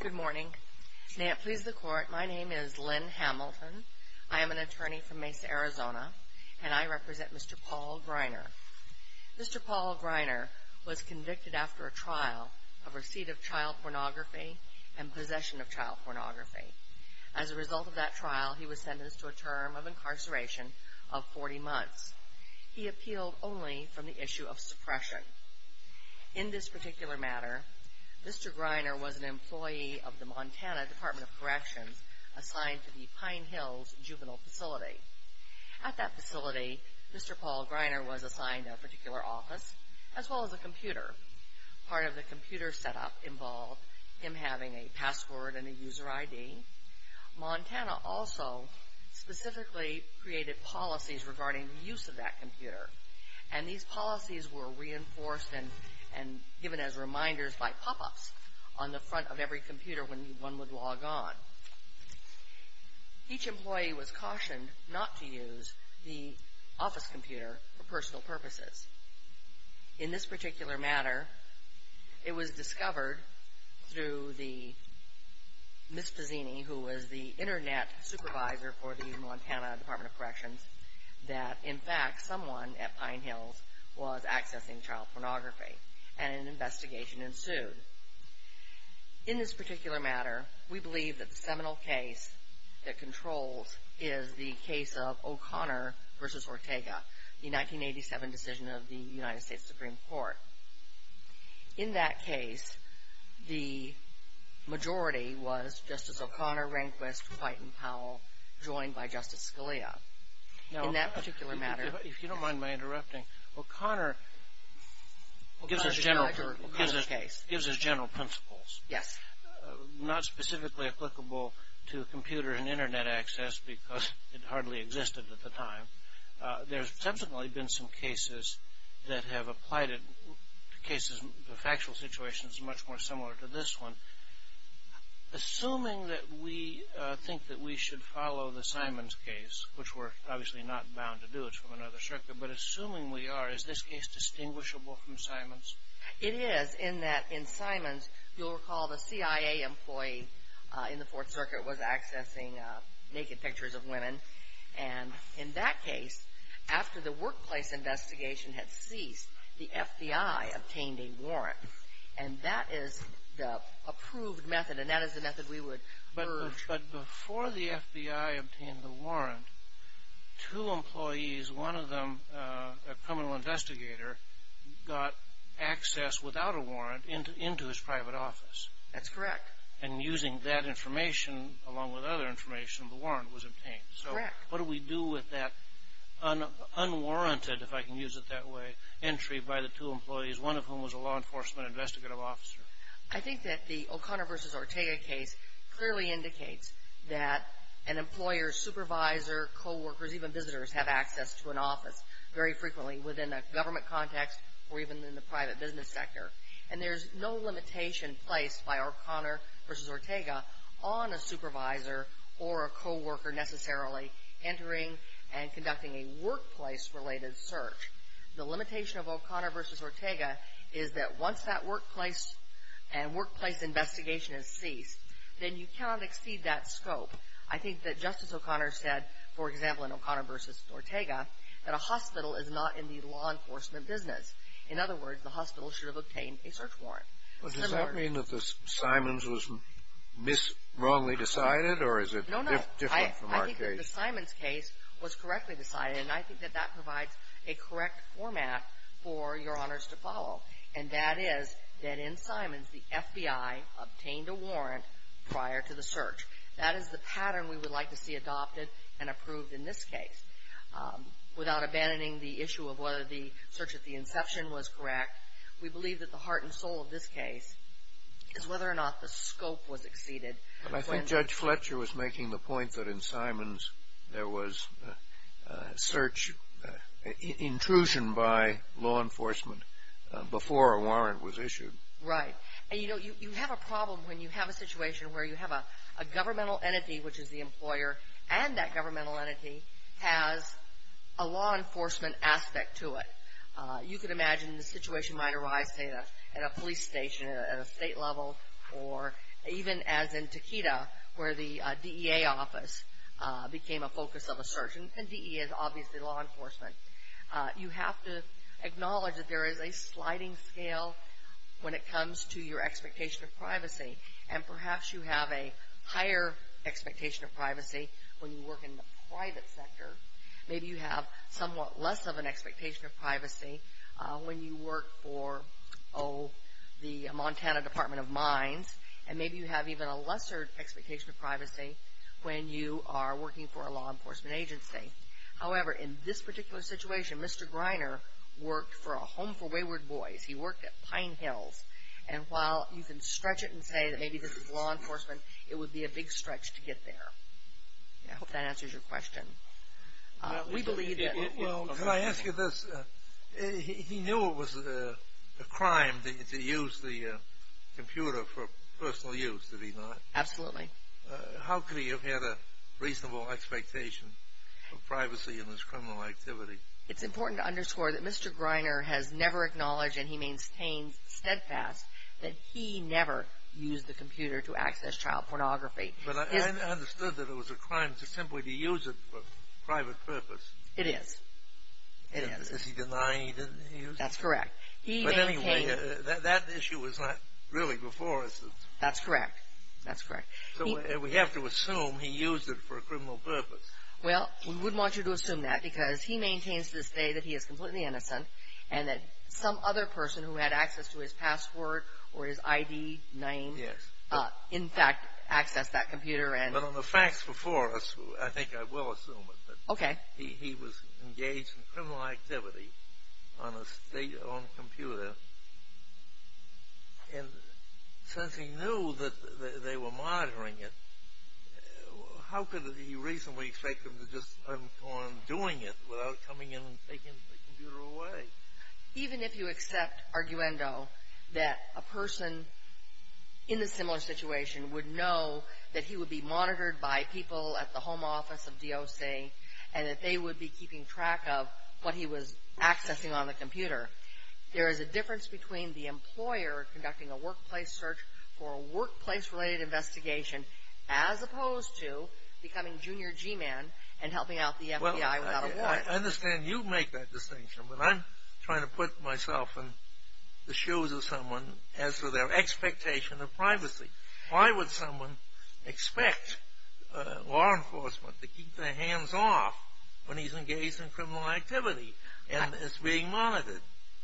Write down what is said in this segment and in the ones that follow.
Good morning. May it please the Court, my name is Lynn Hamilton. I am an attorney from Mesa, Arizona, and I represent Mr. Paul Greiner. Mr. Paul Greiner was convicted after a trial of receipt of child pornography and possession of child pornography. As a result of that trial, he was sentenced to a term of incarceration of 40 months. He appealed only from the issue of suppression. In this particular matter, Mr. Greiner was an employee of the Montana Department of Corrections assigned to the Pine Hills Juvenile Facility. At that facility, Mr. Paul Greiner was assigned a particular office, as well as a computer. Part of the computer setup involved him having a password and a user ID. Montana also specifically created policies regarding the use of that computer. And these policies were reinforced and given as reminders by pop-ups on the front of every computer when one would log on. Each employee was cautioned not to use the office computer for personal purposes. In this particular matter, it was discovered through Ms. Pazzini, who was the Internet Supervisor for the Montana Department of Corrections, that, in fact, someone at Pine Hills was accessing child pornography, and an investigation ensued. In this particular matter, we believe that the seminal case that controls is the case of O'Connor v. Ortega, the 1987 decision of the United States Supreme Court. In that case, the majority was Justice O'Connor, Rehnquist, White, and Powell, joined by Justice Scalia. In that particular matter. Now, if you don't mind my interrupting, O'Connor gives us general principles. Yes. Not specifically applicable to computer and Internet access, because it hardly existed at the time. There's subsequently been some cases that have applied it. The factual situation is much more similar to this one. Assuming that we think that we should follow the Simons case, which we're obviously not bound to do. It's from another circuit. But assuming we are, is this case distinguishable from Simons? It is, in that in Simons, you'll recall the CIA employee in the Fourth Circuit was accessing naked pictures of women. And in that case, after the workplace investigation had ceased, the FBI obtained a warrant. And that is the approved method. And that is the method we would urge. But before the FBI obtained the warrant, two employees, one of them a criminal investigator, got access without a warrant into his private office. That's correct. And using that information, along with other information, the warrant was obtained. Correct. So what do we do with that unwarranted, if I can use it that way, one of whom was a law enforcement investigative officer? I think that the O'Connor v. Ortega case clearly indicates that an employer, supervisor, co-workers, even visitors have access to an office very frequently within a government context or even in the private business sector. And there's no limitation placed by O'Connor v. Ortega on a supervisor or a co-worker necessarily entering and conducting a workplace-related search. The limitation of O'Connor v. Ortega is that once that workplace investigation has ceased, then you cannot exceed that scope. I think that Justice O'Connor said, for example, in O'Connor v. Ortega, that a hospital is not in the law enforcement business. In other words, the hospital should have obtained a search warrant. Does that mean that the Simons was wrongly decided, or is it different from our case? No, no. I think that the Simons case was correctly decided. And I think that that provides a correct format for Your Honors to follow, and that is that in Simons the FBI obtained a warrant prior to the search. That is the pattern we would like to see adopted and approved in this case. Without abandoning the issue of whether the search at the inception was correct, we believe that the heart and soul of this case is whether or not the scope was exceeded. I think Judge Fletcher was making the point that in Simons there was intrusion by law enforcement before a warrant was issued. Right. And, you know, you have a problem when you have a situation where you have a governmental entity, which is the employer, and that governmental entity has a law enforcement aspect to it. You could imagine the situation might arise, say, at a police station, at a state level, or even as in Takeda where the DEA office became a focus of a search, and DEA is obviously law enforcement. You have to acknowledge that there is a sliding scale when it comes to your expectation of privacy, and perhaps you have a higher expectation of privacy when you work in the private sector. Maybe you have somewhat less of an expectation of privacy when you work for, oh, the Montana Department of Mines, and maybe you have even a lesser expectation of privacy when you are working for a law enforcement agency. However, in this particular situation, Mr. Greiner worked for a home for wayward boys. He worked at Pine Hills, and while you can stretch it and say that maybe this is law enforcement, it would be a big stretch to get there. I hope that answers your question. Can I ask you this? He knew it was a crime to use the computer for personal use, did he not? Absolutely. How could he have had a reasonable expectation of privacy in this criminal activity? It's important to underscore that Mr. Greiner has never acknowledged, and he maintains steadfast that he never used the computer to access child pornography. But I understood that it was a crime simply to use it for private purpose. It is. It is. Does he deny he didn't use it? That's correct. But anyway, that issue was not really before us. That's correct. That's correct. So we have to assume he used it for a criminal purpose. Well, we would want you to assume that because he maintains to this day that he is completely innocent and that some other person who had access to his password or his ID name, in fact, accessed that computer. But on the facts before us, I think I will assume it. Okay. He was engaged in criminal activity on a state-owned computer. And since he knew that they were monitoring it, how could he reasonably expect them to just go on doing it without coming in and taking the computer away? Even if you accept arguendo that a person in a similar situation would know that he would be monitored by people at the home office of DOC and that they would be keeping track of what he was accessing on the computer, there is a difference between the employer conducting a workplace search for a workplace-related investigation as opposed to becoming Junior G-Man and helping out the FBI without a warrant. Well, I understand you make that distinction, but I'm trying to put myself in the shoes of someone as to their expectation of privacy. Why would someone expect law enforcement to keep their hands off when he's engaged in criminal activity and is being monitored?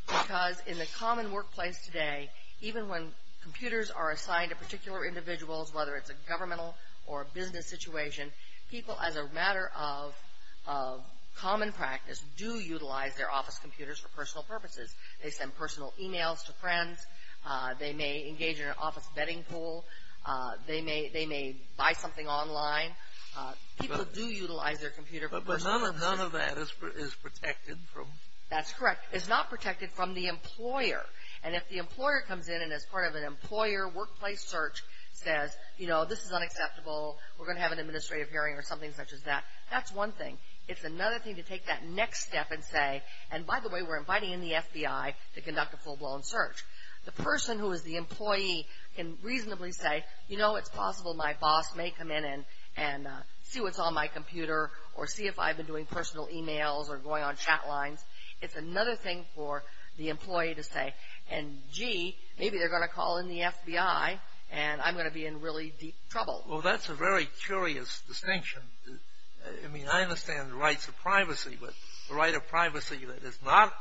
Because in the common workplace today, even when computers are assigned to particular individuals, whether it's a governmental or a business situation, people, as a matter of common practice, do utilize their office computers for personal purposes. They send personal e-mails to friends. They may engage in an office betting pool. They may buy something online. People do utilize their computer for personal purposes. But none of that is protected from? That's correct. It's not protected from the employer. And if the employer comes in and as part of an employer workplace search says, you know, this is unacceptable, we're going to have an administrative hearing or something such as that, that's one thing. It's another thing to take that next step and say, and by the way, we're inviting in the FBI to conduct a full-blown search. The person who is the employee can reasonably say, you know, it's possible my boss may come in and see what's on my computer or see if I've been doing personal e-mails or going on chat lines. It's another thing for the employee to say, and gee, maybe they're going to call in the FBI and I'm going to be in really deep trouble. Well, that's a very curious distinction. I mean, I understand the rights of privacy, but the right of privacy that is not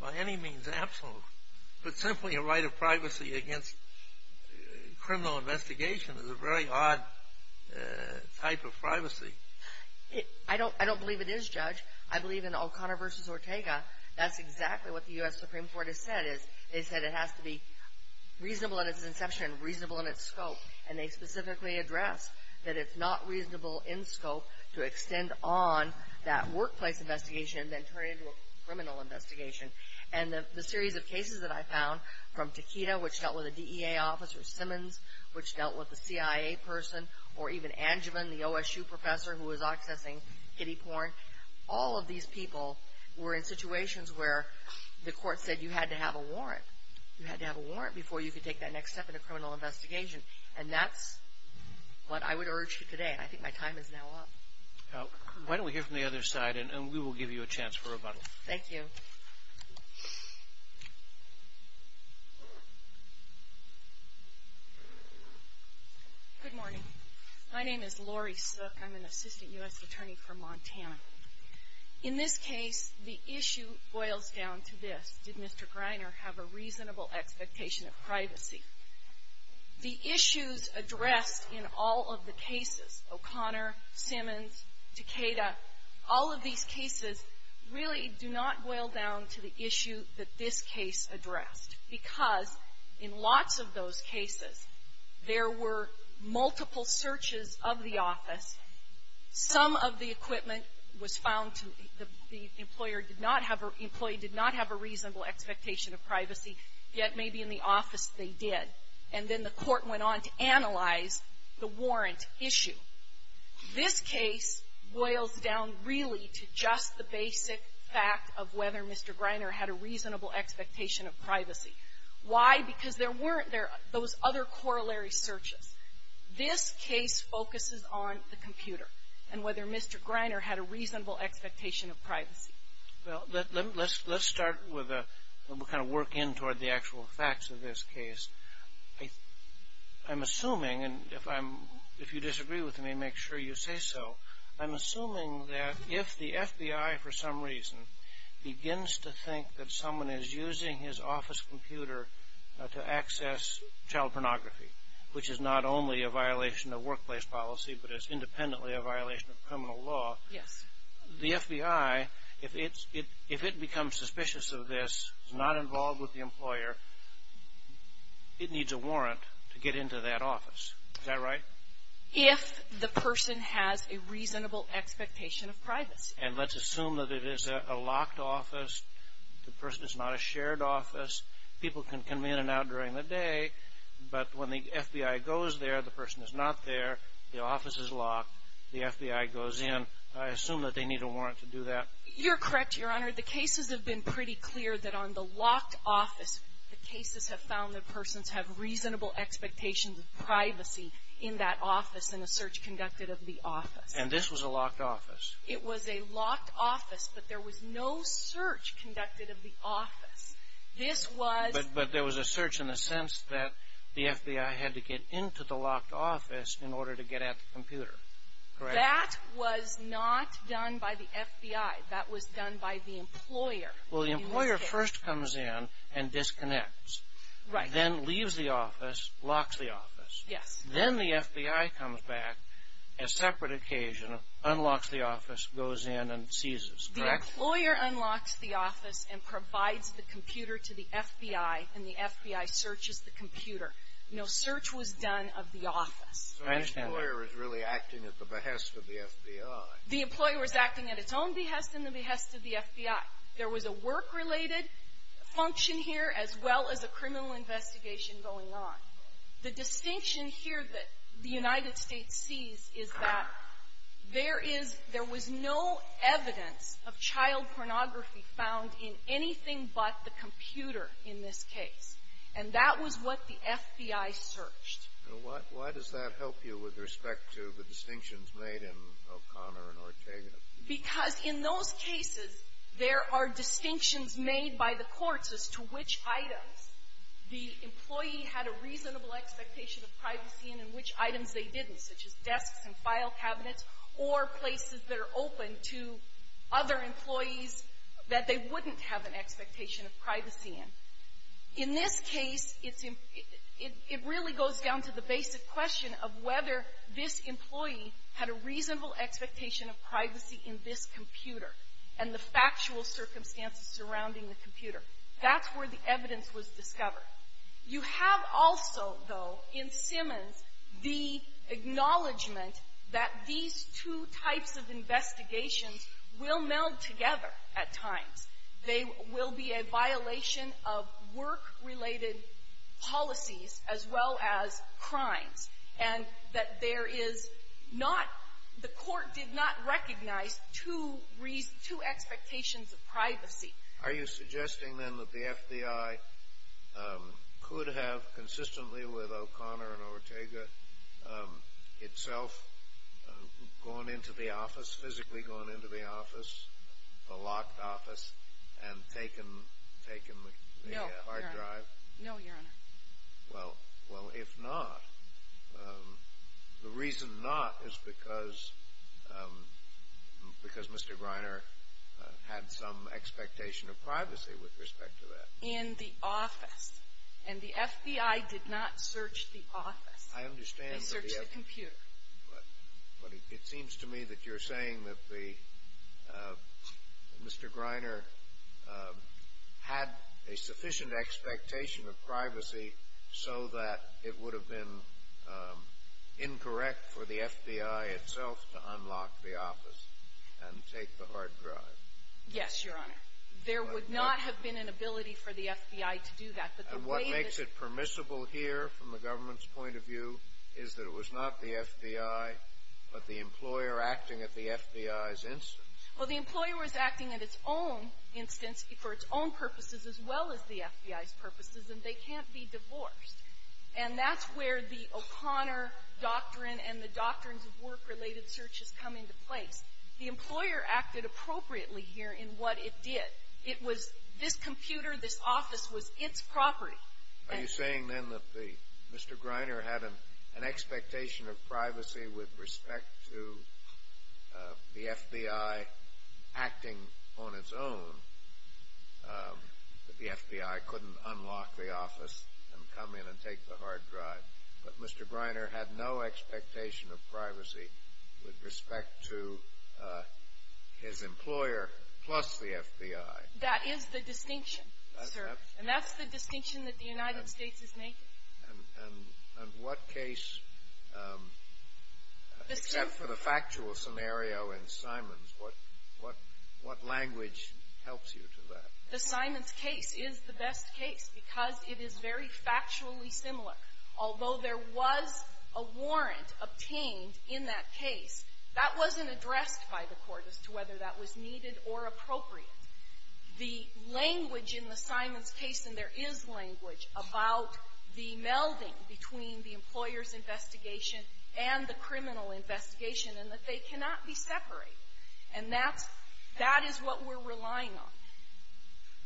by any means absolute, but simply a right of privacy against criminal investigation is a very odd type of privacy. I don't believe it is, Judge. I believe in O'Connor v. Ortega, that's exactly what the U.S. Supreme Court has said. They said it has to be reasonable in its inception and reasonable in its scope, and they specifically addressed that it's not reasonable in scope to extend on that workplace investigation and then turn it into a criminal investigation. And the series of cases that I found, from Takeda, which dealt with a DEA officer, Simmons, which dealt with a CIA person, or even Angevin, the OSU professor who was accessing kiddie porn, all of these people were in situations where the court said you had to have a warrant. You had to have a warrant before you could take that next step in a criminal investigation. And that's what I would urge you today, and I think my time is now up. Why don't we hear from the other side, and we will give you a chance for rebuttal. Thank you. Good morning. My name is Lori Sook. I'm an assistant U.S. attorney from Montana. In this case, the issue boils down to this. Did Mr. Greiner have a reasonable expectation of privacy? The issues addressed in all of the cases, O'Connor, Simmons, Takeda, all of these cases, really do not boil down to the issue that this case addressed. Because in lots of those cases, there were multiple searches of the office. Some of the equipment was found to be, the employer did not have, the employee did not have a reasonable expectation of privacy, yet maybe in the office they did. And then the court went on to analyze the warrant issue. This case boils down really to just the basic fact of whether Mr. Greiner had a reasonable expectation of privacy. Why? Because there weren't those other corollary searches. This case focuses on the computer and whether Mr. Greiner had a reasonable expectation of privacy. Well, let's start with a kind of work in toward the actual facts of this case. I'm assuming, and if you disagree with me, make sure you say so. I'm assuming that if the FBI, for some reason, begins to think that someone is using his office computer to access child pornography, which is not only a violation of workplace policy, but is independently a violation of criminal law. Yes. The FBI, if it becomes suspicious of this, is not involved with the employer, it needs a warrant to get into that office. Is that right? If the person has a reasonable expectation of privacy. And let's assume that it is a locked office. The person is not a shared office. People can come in and out during the day. But when the FBI goes there, the person is not there. The office is locked. The FBI goes in. I assume that they need a warrant to do that. You're correct, Your Honor. The cases have been pretty clear that on the locked office, the cases have found that persons have reasonable expectations of privacy in that office in a search conducted of the office. And this was a locked office? It was a locked office, but there was no search conducted of the office. This was — But there was a search in the sense that the FBI had to get into the locked office in order to get at the computer. Correct? That was not done by the FBI. That was done by the employer. Well, the employer first comes in and disconnects. Right. Then leaves the office, locks the office. Yes. Then the FBI comes back, a separate occasion, unlocks the office, goes in, and seizes. Correct? The employer unlocks the office and provides the computer to the FBI, and the FBI searches the computer. No search was done of the office. I understand that. The employer was really acting at the behest of the FBI. The employer was acting at its own behest and the behest of the FBI. There was a work-related function here as well as a criminal investigation going on. The distinction here that the United States sees is that there is — there was no evidence of child pornography found in anything but the computer in this case. And that was what the FBI searched. Now, why does that help you with respect to the distinctions made in O'Connor and Ortega? Because in those cases, there are distinctions made by the courts as to which items the employee had a reasonable expectation of privacy in and which items they didn't, such as desks and file cabinets or places that are open to other employees that they wouldn't have an expectation of privacy in. In this case, it's — it really goes down to the basic question of whether this employee had a reasonable expectation of privacy in this computer and the factual circumstances surrounding the computer. That's where the evidence was discovered. You have also, though, in Simmons, the acknowledgment that these two types of investigations will meld together at times. They will be a violation of work-related policies as well as crimes. And that there is not — the court did not recognize two reasons — two expectations of privacy. Are you suggesting, then, that the FBI could have consistently with O'Connor and Ortega itself gone into the office, physically gone into the office, the locked office, and taken the hard drive? No, Your Honor. No, Your Honor. Well, if not, the reason not is because Mr. Greiner had some expectation of privacy with respect to that. In the office. And the FBI did not search the office. I understand. They searched the computer. But it seems to me that you're saying that Mr. Greiner had a sufficient expectation of privacy so that it would have been incorrect for the FBI itself to unlock the office and take the hard drive. Yes, Your Honor. There would not have been an ability for the FBI to do that. And what makes it permissible here, from the government's point of view, is that it was not the FBI, but the employer acting at the FBI's instance. Well, the employer was acting at its own instance for its own purposes as well as the FBI's purposes, and they can't be divorced. And that's where the O'Connor doctrine and the doctrines of work-related search has come into place. The employer acted appropriately here in what it did. It was this computer, this office was its property. Are you saying then that Mr. Greiner had an expectation of privacy with respect to the FBI acting on its own, that the FBI couldn't unlock the office and come in and take the hard drive, but Mr. Greiner had no expectation of privacy with respect to his employer plus the FBI? That is the distinction, sir. And that's the distinction that the United States is making. And what case, except for the factual scenario in Simon's, what language helps you to that? The Simon's case is the best case because it is very factually similar. Although there was a warrant obtained in that case, that wasn't addressed by the court as to whether that was needed or appropriate. The language in the Simon's case, and there is language about the melding between the employer's investigation and the criminal investigation, and that they cannot be separated. And that's, that is what we're relying on.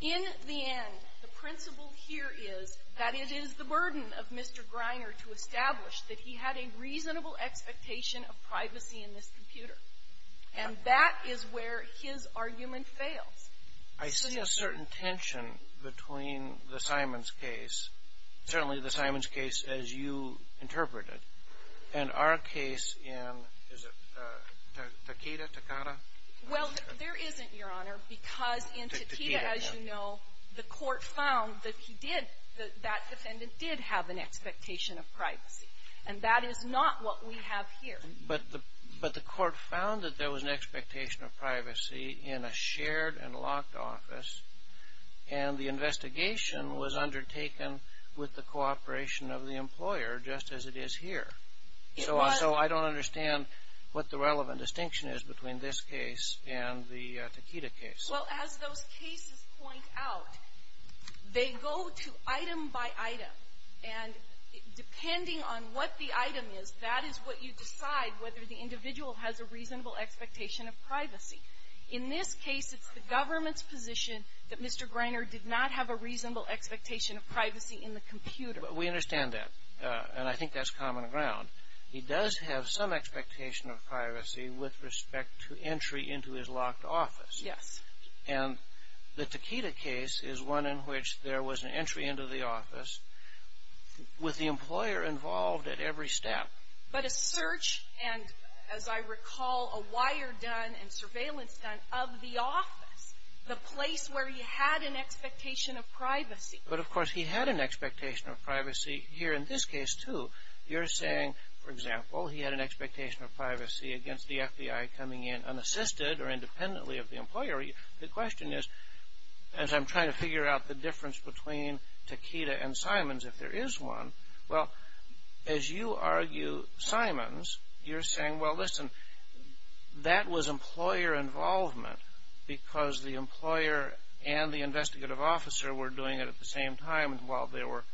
In the end, the principle here is that it is the burden of Mr. Greiner to establish that he had a reasonable expectation of privacy in this computer. And that is where his argument fails. I see a certain tension between the Simon's case, certainly the Simon's case as you interpret it, and our case in, is it Takeda, Takada? Well, there isn't, Your Honor, because in Takeda, as you know, the court found that he did, that that defendant did have an expectation of privacy. And that is not what we have here. But the court found that there was an expectation of privacy in a shared and locked office, and the investigation was undertaken with the cooperation of the employer just as it is here. So I don't understand what the relevant distinction is between this case and the Takeda case. Well, as those cases point out, they go to item by item. And depending on what the item is, that is what you decide whether the individual has a reasonable expectation of privacy. In this case, it's the government's position that Mr. Greiner did not have a reasonable expectation of privacy in the computer. But we understand that, and I think that's common ground. He does have some expectation of privacy with respect to entry into his locked office. Yes. And the Takeda case is one in which there was an entry into the office with the employer involved at every step. But a search and, as I recall, a wire done and surveillance done of the office, the place where he had an expectation of privacy. But, of course, he had an expectation of privacy here in this case, too. You're saying, for example, he had an expectation of privacy against the FBI coming in unassisted or independently of the employer. The question is, as I'm trying to figure out the difference between Takeda and Simons, if there is one, well, as you argue Simons, you're saying, well, listen, that was employer involvement because the employer and the investigative officer were doing it at the same time, and while there were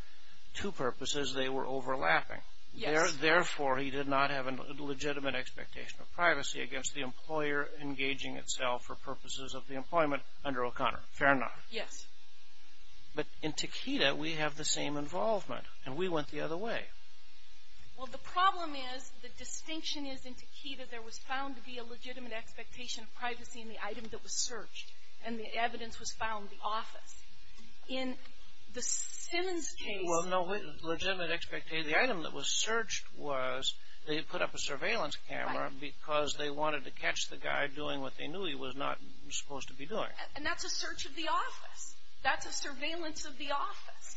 two purposes, they were overlapping. Yes. Therefore, he did not have a legitimate expectation of privacy against the employer engaging itself for purposes of the employment under O'Connor. Fair enough. Yes. But in Takeda, we have the same involvement, and we went the other way. Well, the problem is the distinction is in Takeda there was found to be a legitimate expectation of privacy in the item that was searched, and the evidence was found in the office. In the Simons case — Well, no. Legitimate expectation. The item that was searched was they had put up a surveillance camera because they wanted to catch the guy doing what they knew he was not supposed to be doing. And that's a search of the office. That's a surveillance of the office.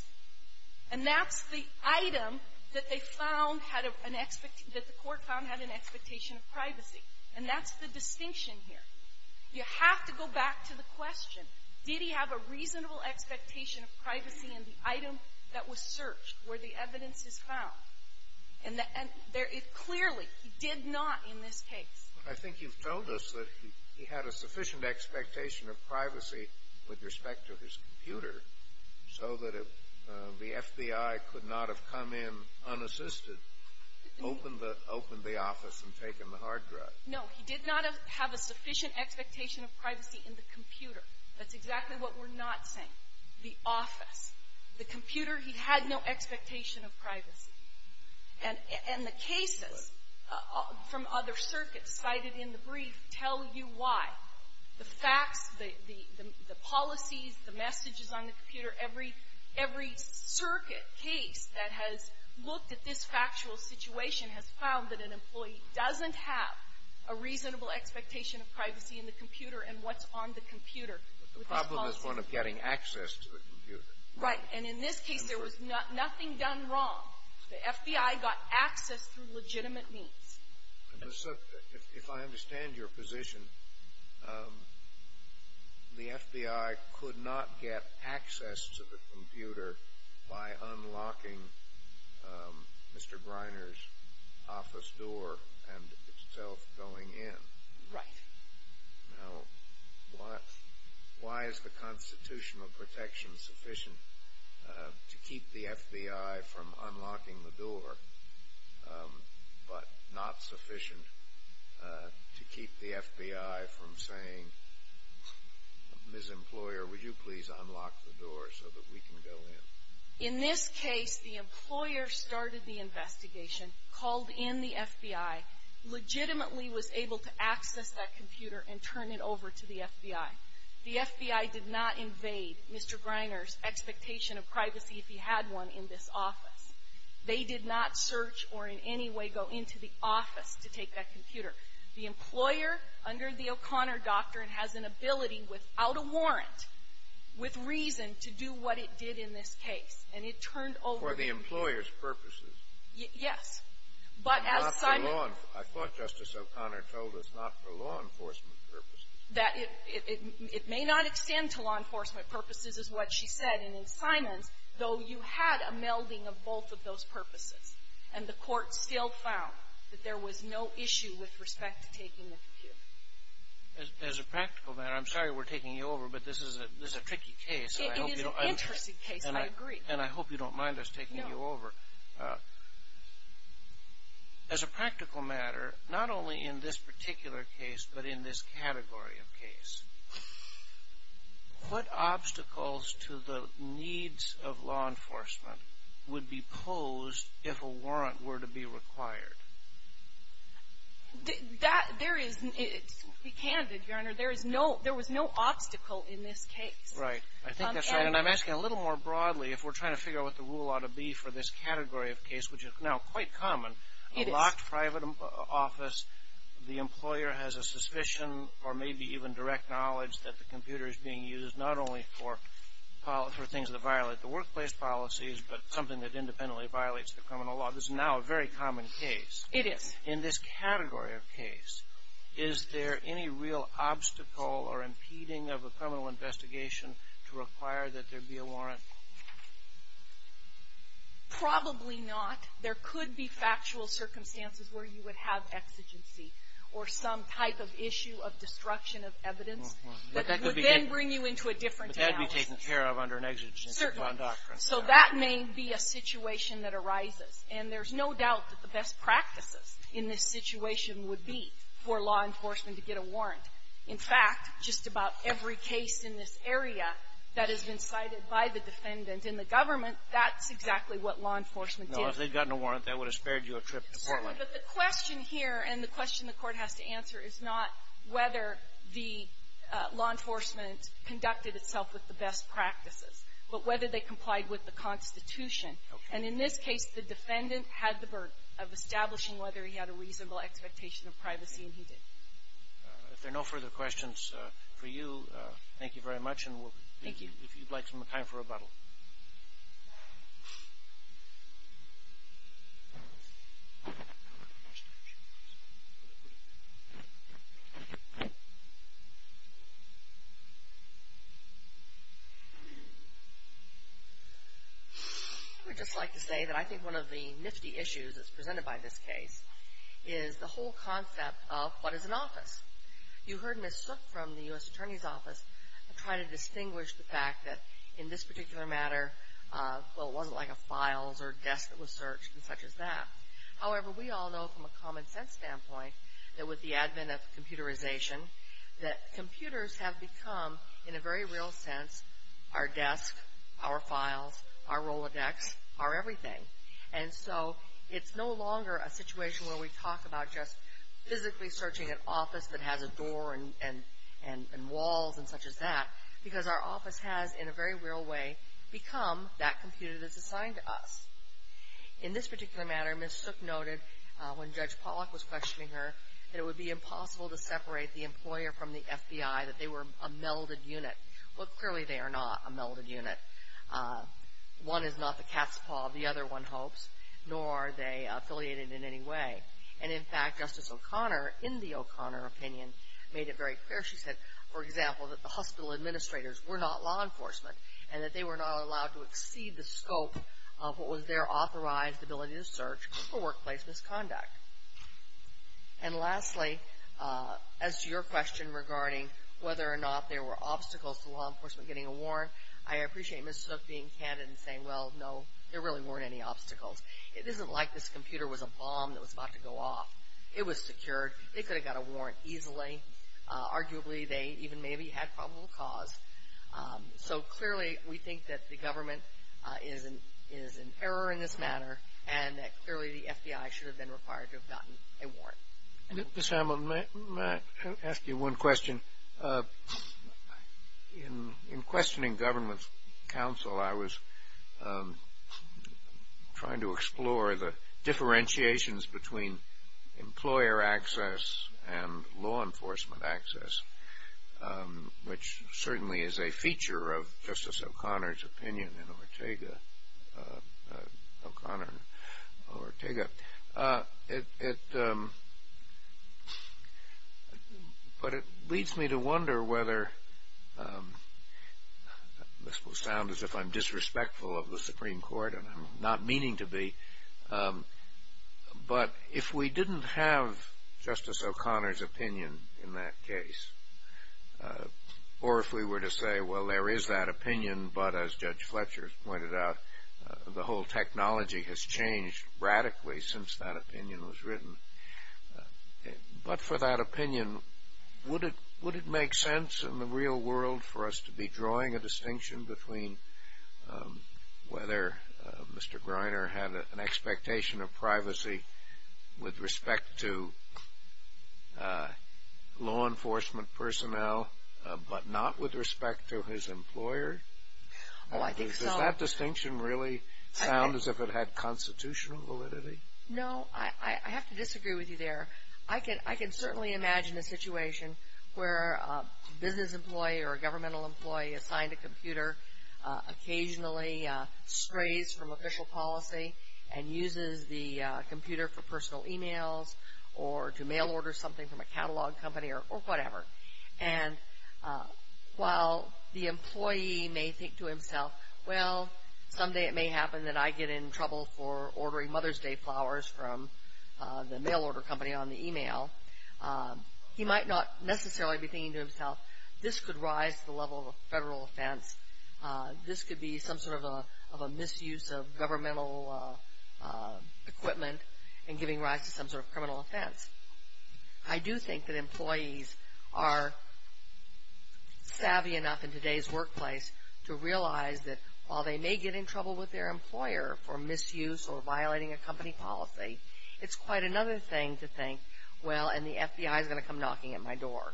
And that's the item that they found had an — that the court found had an expectation of privacy. And that's the distinction here. You have to go back to the question. Did he have a reasonable expectation of privacy in the item that was searched where the evidence is found? And there — clearly, he did not in this case. I think you've told us that he had a sufficient expectation of privacy with respect to his computer so that the FBI could not have come in unassisted, opened the office and taken the hard drive. No. He did not have a sufficient expectation of privacy in the computer. That's exactly what we're not saying. The office. The computer, he had no expectation of privacy. And the cases from other circuits cited in the brief tell you why. The facts, the policies, the messages on the computer, every circuit case that has looked at this factual situation has found that an employee doesn't have a reasonable expectation of privacy in the computer and what's on the computer. The problem is one of getting access to the computer. Right. And in this case, there was nothing done wrong. The FBI got access through legitimate means. If I understand your position, the FBI could not get access to the computer by unlocking Mr. Briner's office door and itself going in. Right. Now, why is the Constitution of Protection sufficient to keep the FBI from unlocking the door but not sufficient to keep the FBI from saying, Ms. Employer, would you please unlock the door so that we can go in? In this case, the employer started the investigation, called in the FBI, legitimately was able to access that computer and turn it over to the FBI. The FBI did not invade Mr. Briner's expectation of privacy if he had one in this office. They did not search or in any way go into the office to take that computer. The employer, under the O'Connor doctrine, has an ability without a warrant, with reason, to do what it did in this case. And it turned over to the FBI. For the employer's purposes. Yes. But as Simon ---- Not for law ---- I thought Justice O'Connor told us not for law enforcement purposes. That it may not extend to law enforcement purposes is what she said. And in Simon's, though, you had a melding of both of those purposes. And the Court still found that there was no issue with respect to taking the computer. As a practical matter, I'm sorry we're taking you over, but this is a tricky case. It is an interesting case, I agree. And I hope you don't mind us taking you over. No. As a practical matter, not only in this particular case, but in this category of case, what obstacles to the needs of law enforcement would be posed if a warrant were to be required? Be candid, Your Honor. There was no obstacle in this case. Right. I think that's right. And I'm asking a little more broadly. If we're trying to figure out what the rule ought to be for this category of case, which is now quite common, a locked private office, the employer has a suspicion or maybe even direct knowledge that the computer is being used not only for things that violate the workplace policies, but something that independently violates the criminal law. That was now a very common case. It is. In this category of case, is there any real obstacle or impeding of a criminal investigation to require that there be a warrant? Probably not. There could be factual circumstances where you would have exigency or some type of issue of destruction of evidence that would then bring you into a different analysis. Certainly. So that may be a situation that arises. And there's no doubt that the best practices in this situation would be for law enforcement to get a warrant. In fact, just about every case in this area that has been cited by the defendant in the government, that's exactly what law enforcement did. No. If they'd gotten a warrant, that would have spared you a trip to Portland. Certainly. But the question here and the question the Court has to answer is not whether the And in this case, the defendant had the burden of establishing whether he had a reasonable expectation of privacy, and he did. If there are no further questions for you, thank you very much. Thank you. And if you'd like some time for rebuttal. Thank you. I would just like to say that I think one of the nifty issues that's presented by this case is the whole concept of what is an office. You heard Ms. Sook from the U.S. Attorney's Office try to distinguish the fact that in this particular matter, well, it wasn't like a files or desk that was searched and such as that. However, we all know from a common sense standpoint that with the advent of computerization, that computers have become, in a very real sense, our desk, our files, our Rolodex, our everything. And so it's no longer a situation where we talk about just physically searching an office that has a door and walls and such as that, because our office has, in a very real way, become that computer that's assigned to us. In this particular matter, Ms. Sook noted, when Judge Pollack was questioning her, that it would be impossible to separate the employer from the FBI, that they were a melded unit. Well, clearly they are not a melded unit. One is not the cat's paw of the other, one hopes, nor are they affiliated in any way. And in fact, Justice O'Connor, in the O'Connor opinion, made it very clear. She said, for example, that the hospital administrators were not law enforcement and that they were not allowed to exceed the scope of what was their authorized ability to search for workplace misconduct. And lastly, as to your question regarding whether or not there were obstacles to law enforcement getting a warrant, I appreciate Ms. Sook being candid and saying, well, no, there really weren't any obstacles. It isn't like this computer was a bomb that was about to go off. It was secured. It could have got a warrant easily. Arguably, they even maybe had probable cause. So clearly, we think that the government is in error in this matter and that clearly the FBI should have been required to have gotten a warrant. Ms. Hamlin, may I ask you one question? In questioning government's counsel, I was trying to explore the differentiations between employer access and law enforcement access, which certainly is a feature of Justice O'Connor's opinion in Ortega, O'Connor and Ortega. But it leads me to wonder whether, this will sound as if I'm disrespectful of the Supreme Court and I'm not meaning to be, but if we didn't have Justice O'Connor's opinion in that case, or if we were to say, well, there is that opinion, but as Judge Fletcher pointed out, the whole technology has changed radically since that opinion was written. But for that opinion, would it make sense in the real world for us to be drawing a distinction between whether Mr. Greiner had an expectation of privacy with respect to law enforcement personnel, but not with respect to his employer? Oh, I think so. Does that distinction really sound as if it had constitutional validity? No, I have to disagree with you there. I can certainly imagine a situation where a business employee or a governmental employee assigned a computer, occasionally strays from official policy and uses the computer for personal e-mails or to mail order something from a catalog company or whatever. And while the employee may think to himself, well, someday it may happen that I get in trouble for ordering Mother's Day flowers from the mail order company on the e-mail, he might not necessarily be thinking to himself, this could rise to the level of a federal offense. This could be some sort of a misuse of governmental equipment and giving rise to some sort of criminal offense. I do think that employees are savvy enough in today's workplace to realize that while they may get in trouble with their employer for misuse or violating a company policy, it's quite another thing to think, well, and the FBI is going to come knocking at my door.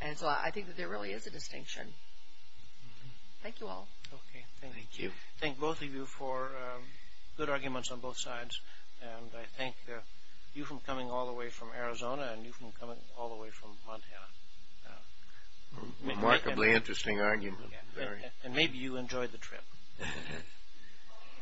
And so I think that there really is a distinction. Thank you all. Okay, thank you. Thank you. Thank both of you for good arguments on both sides. And I thank you for coming all the way from Arizona and you for coming all the way from Montana. Remarkably interesting argument. And maybe you enjoyed the trip.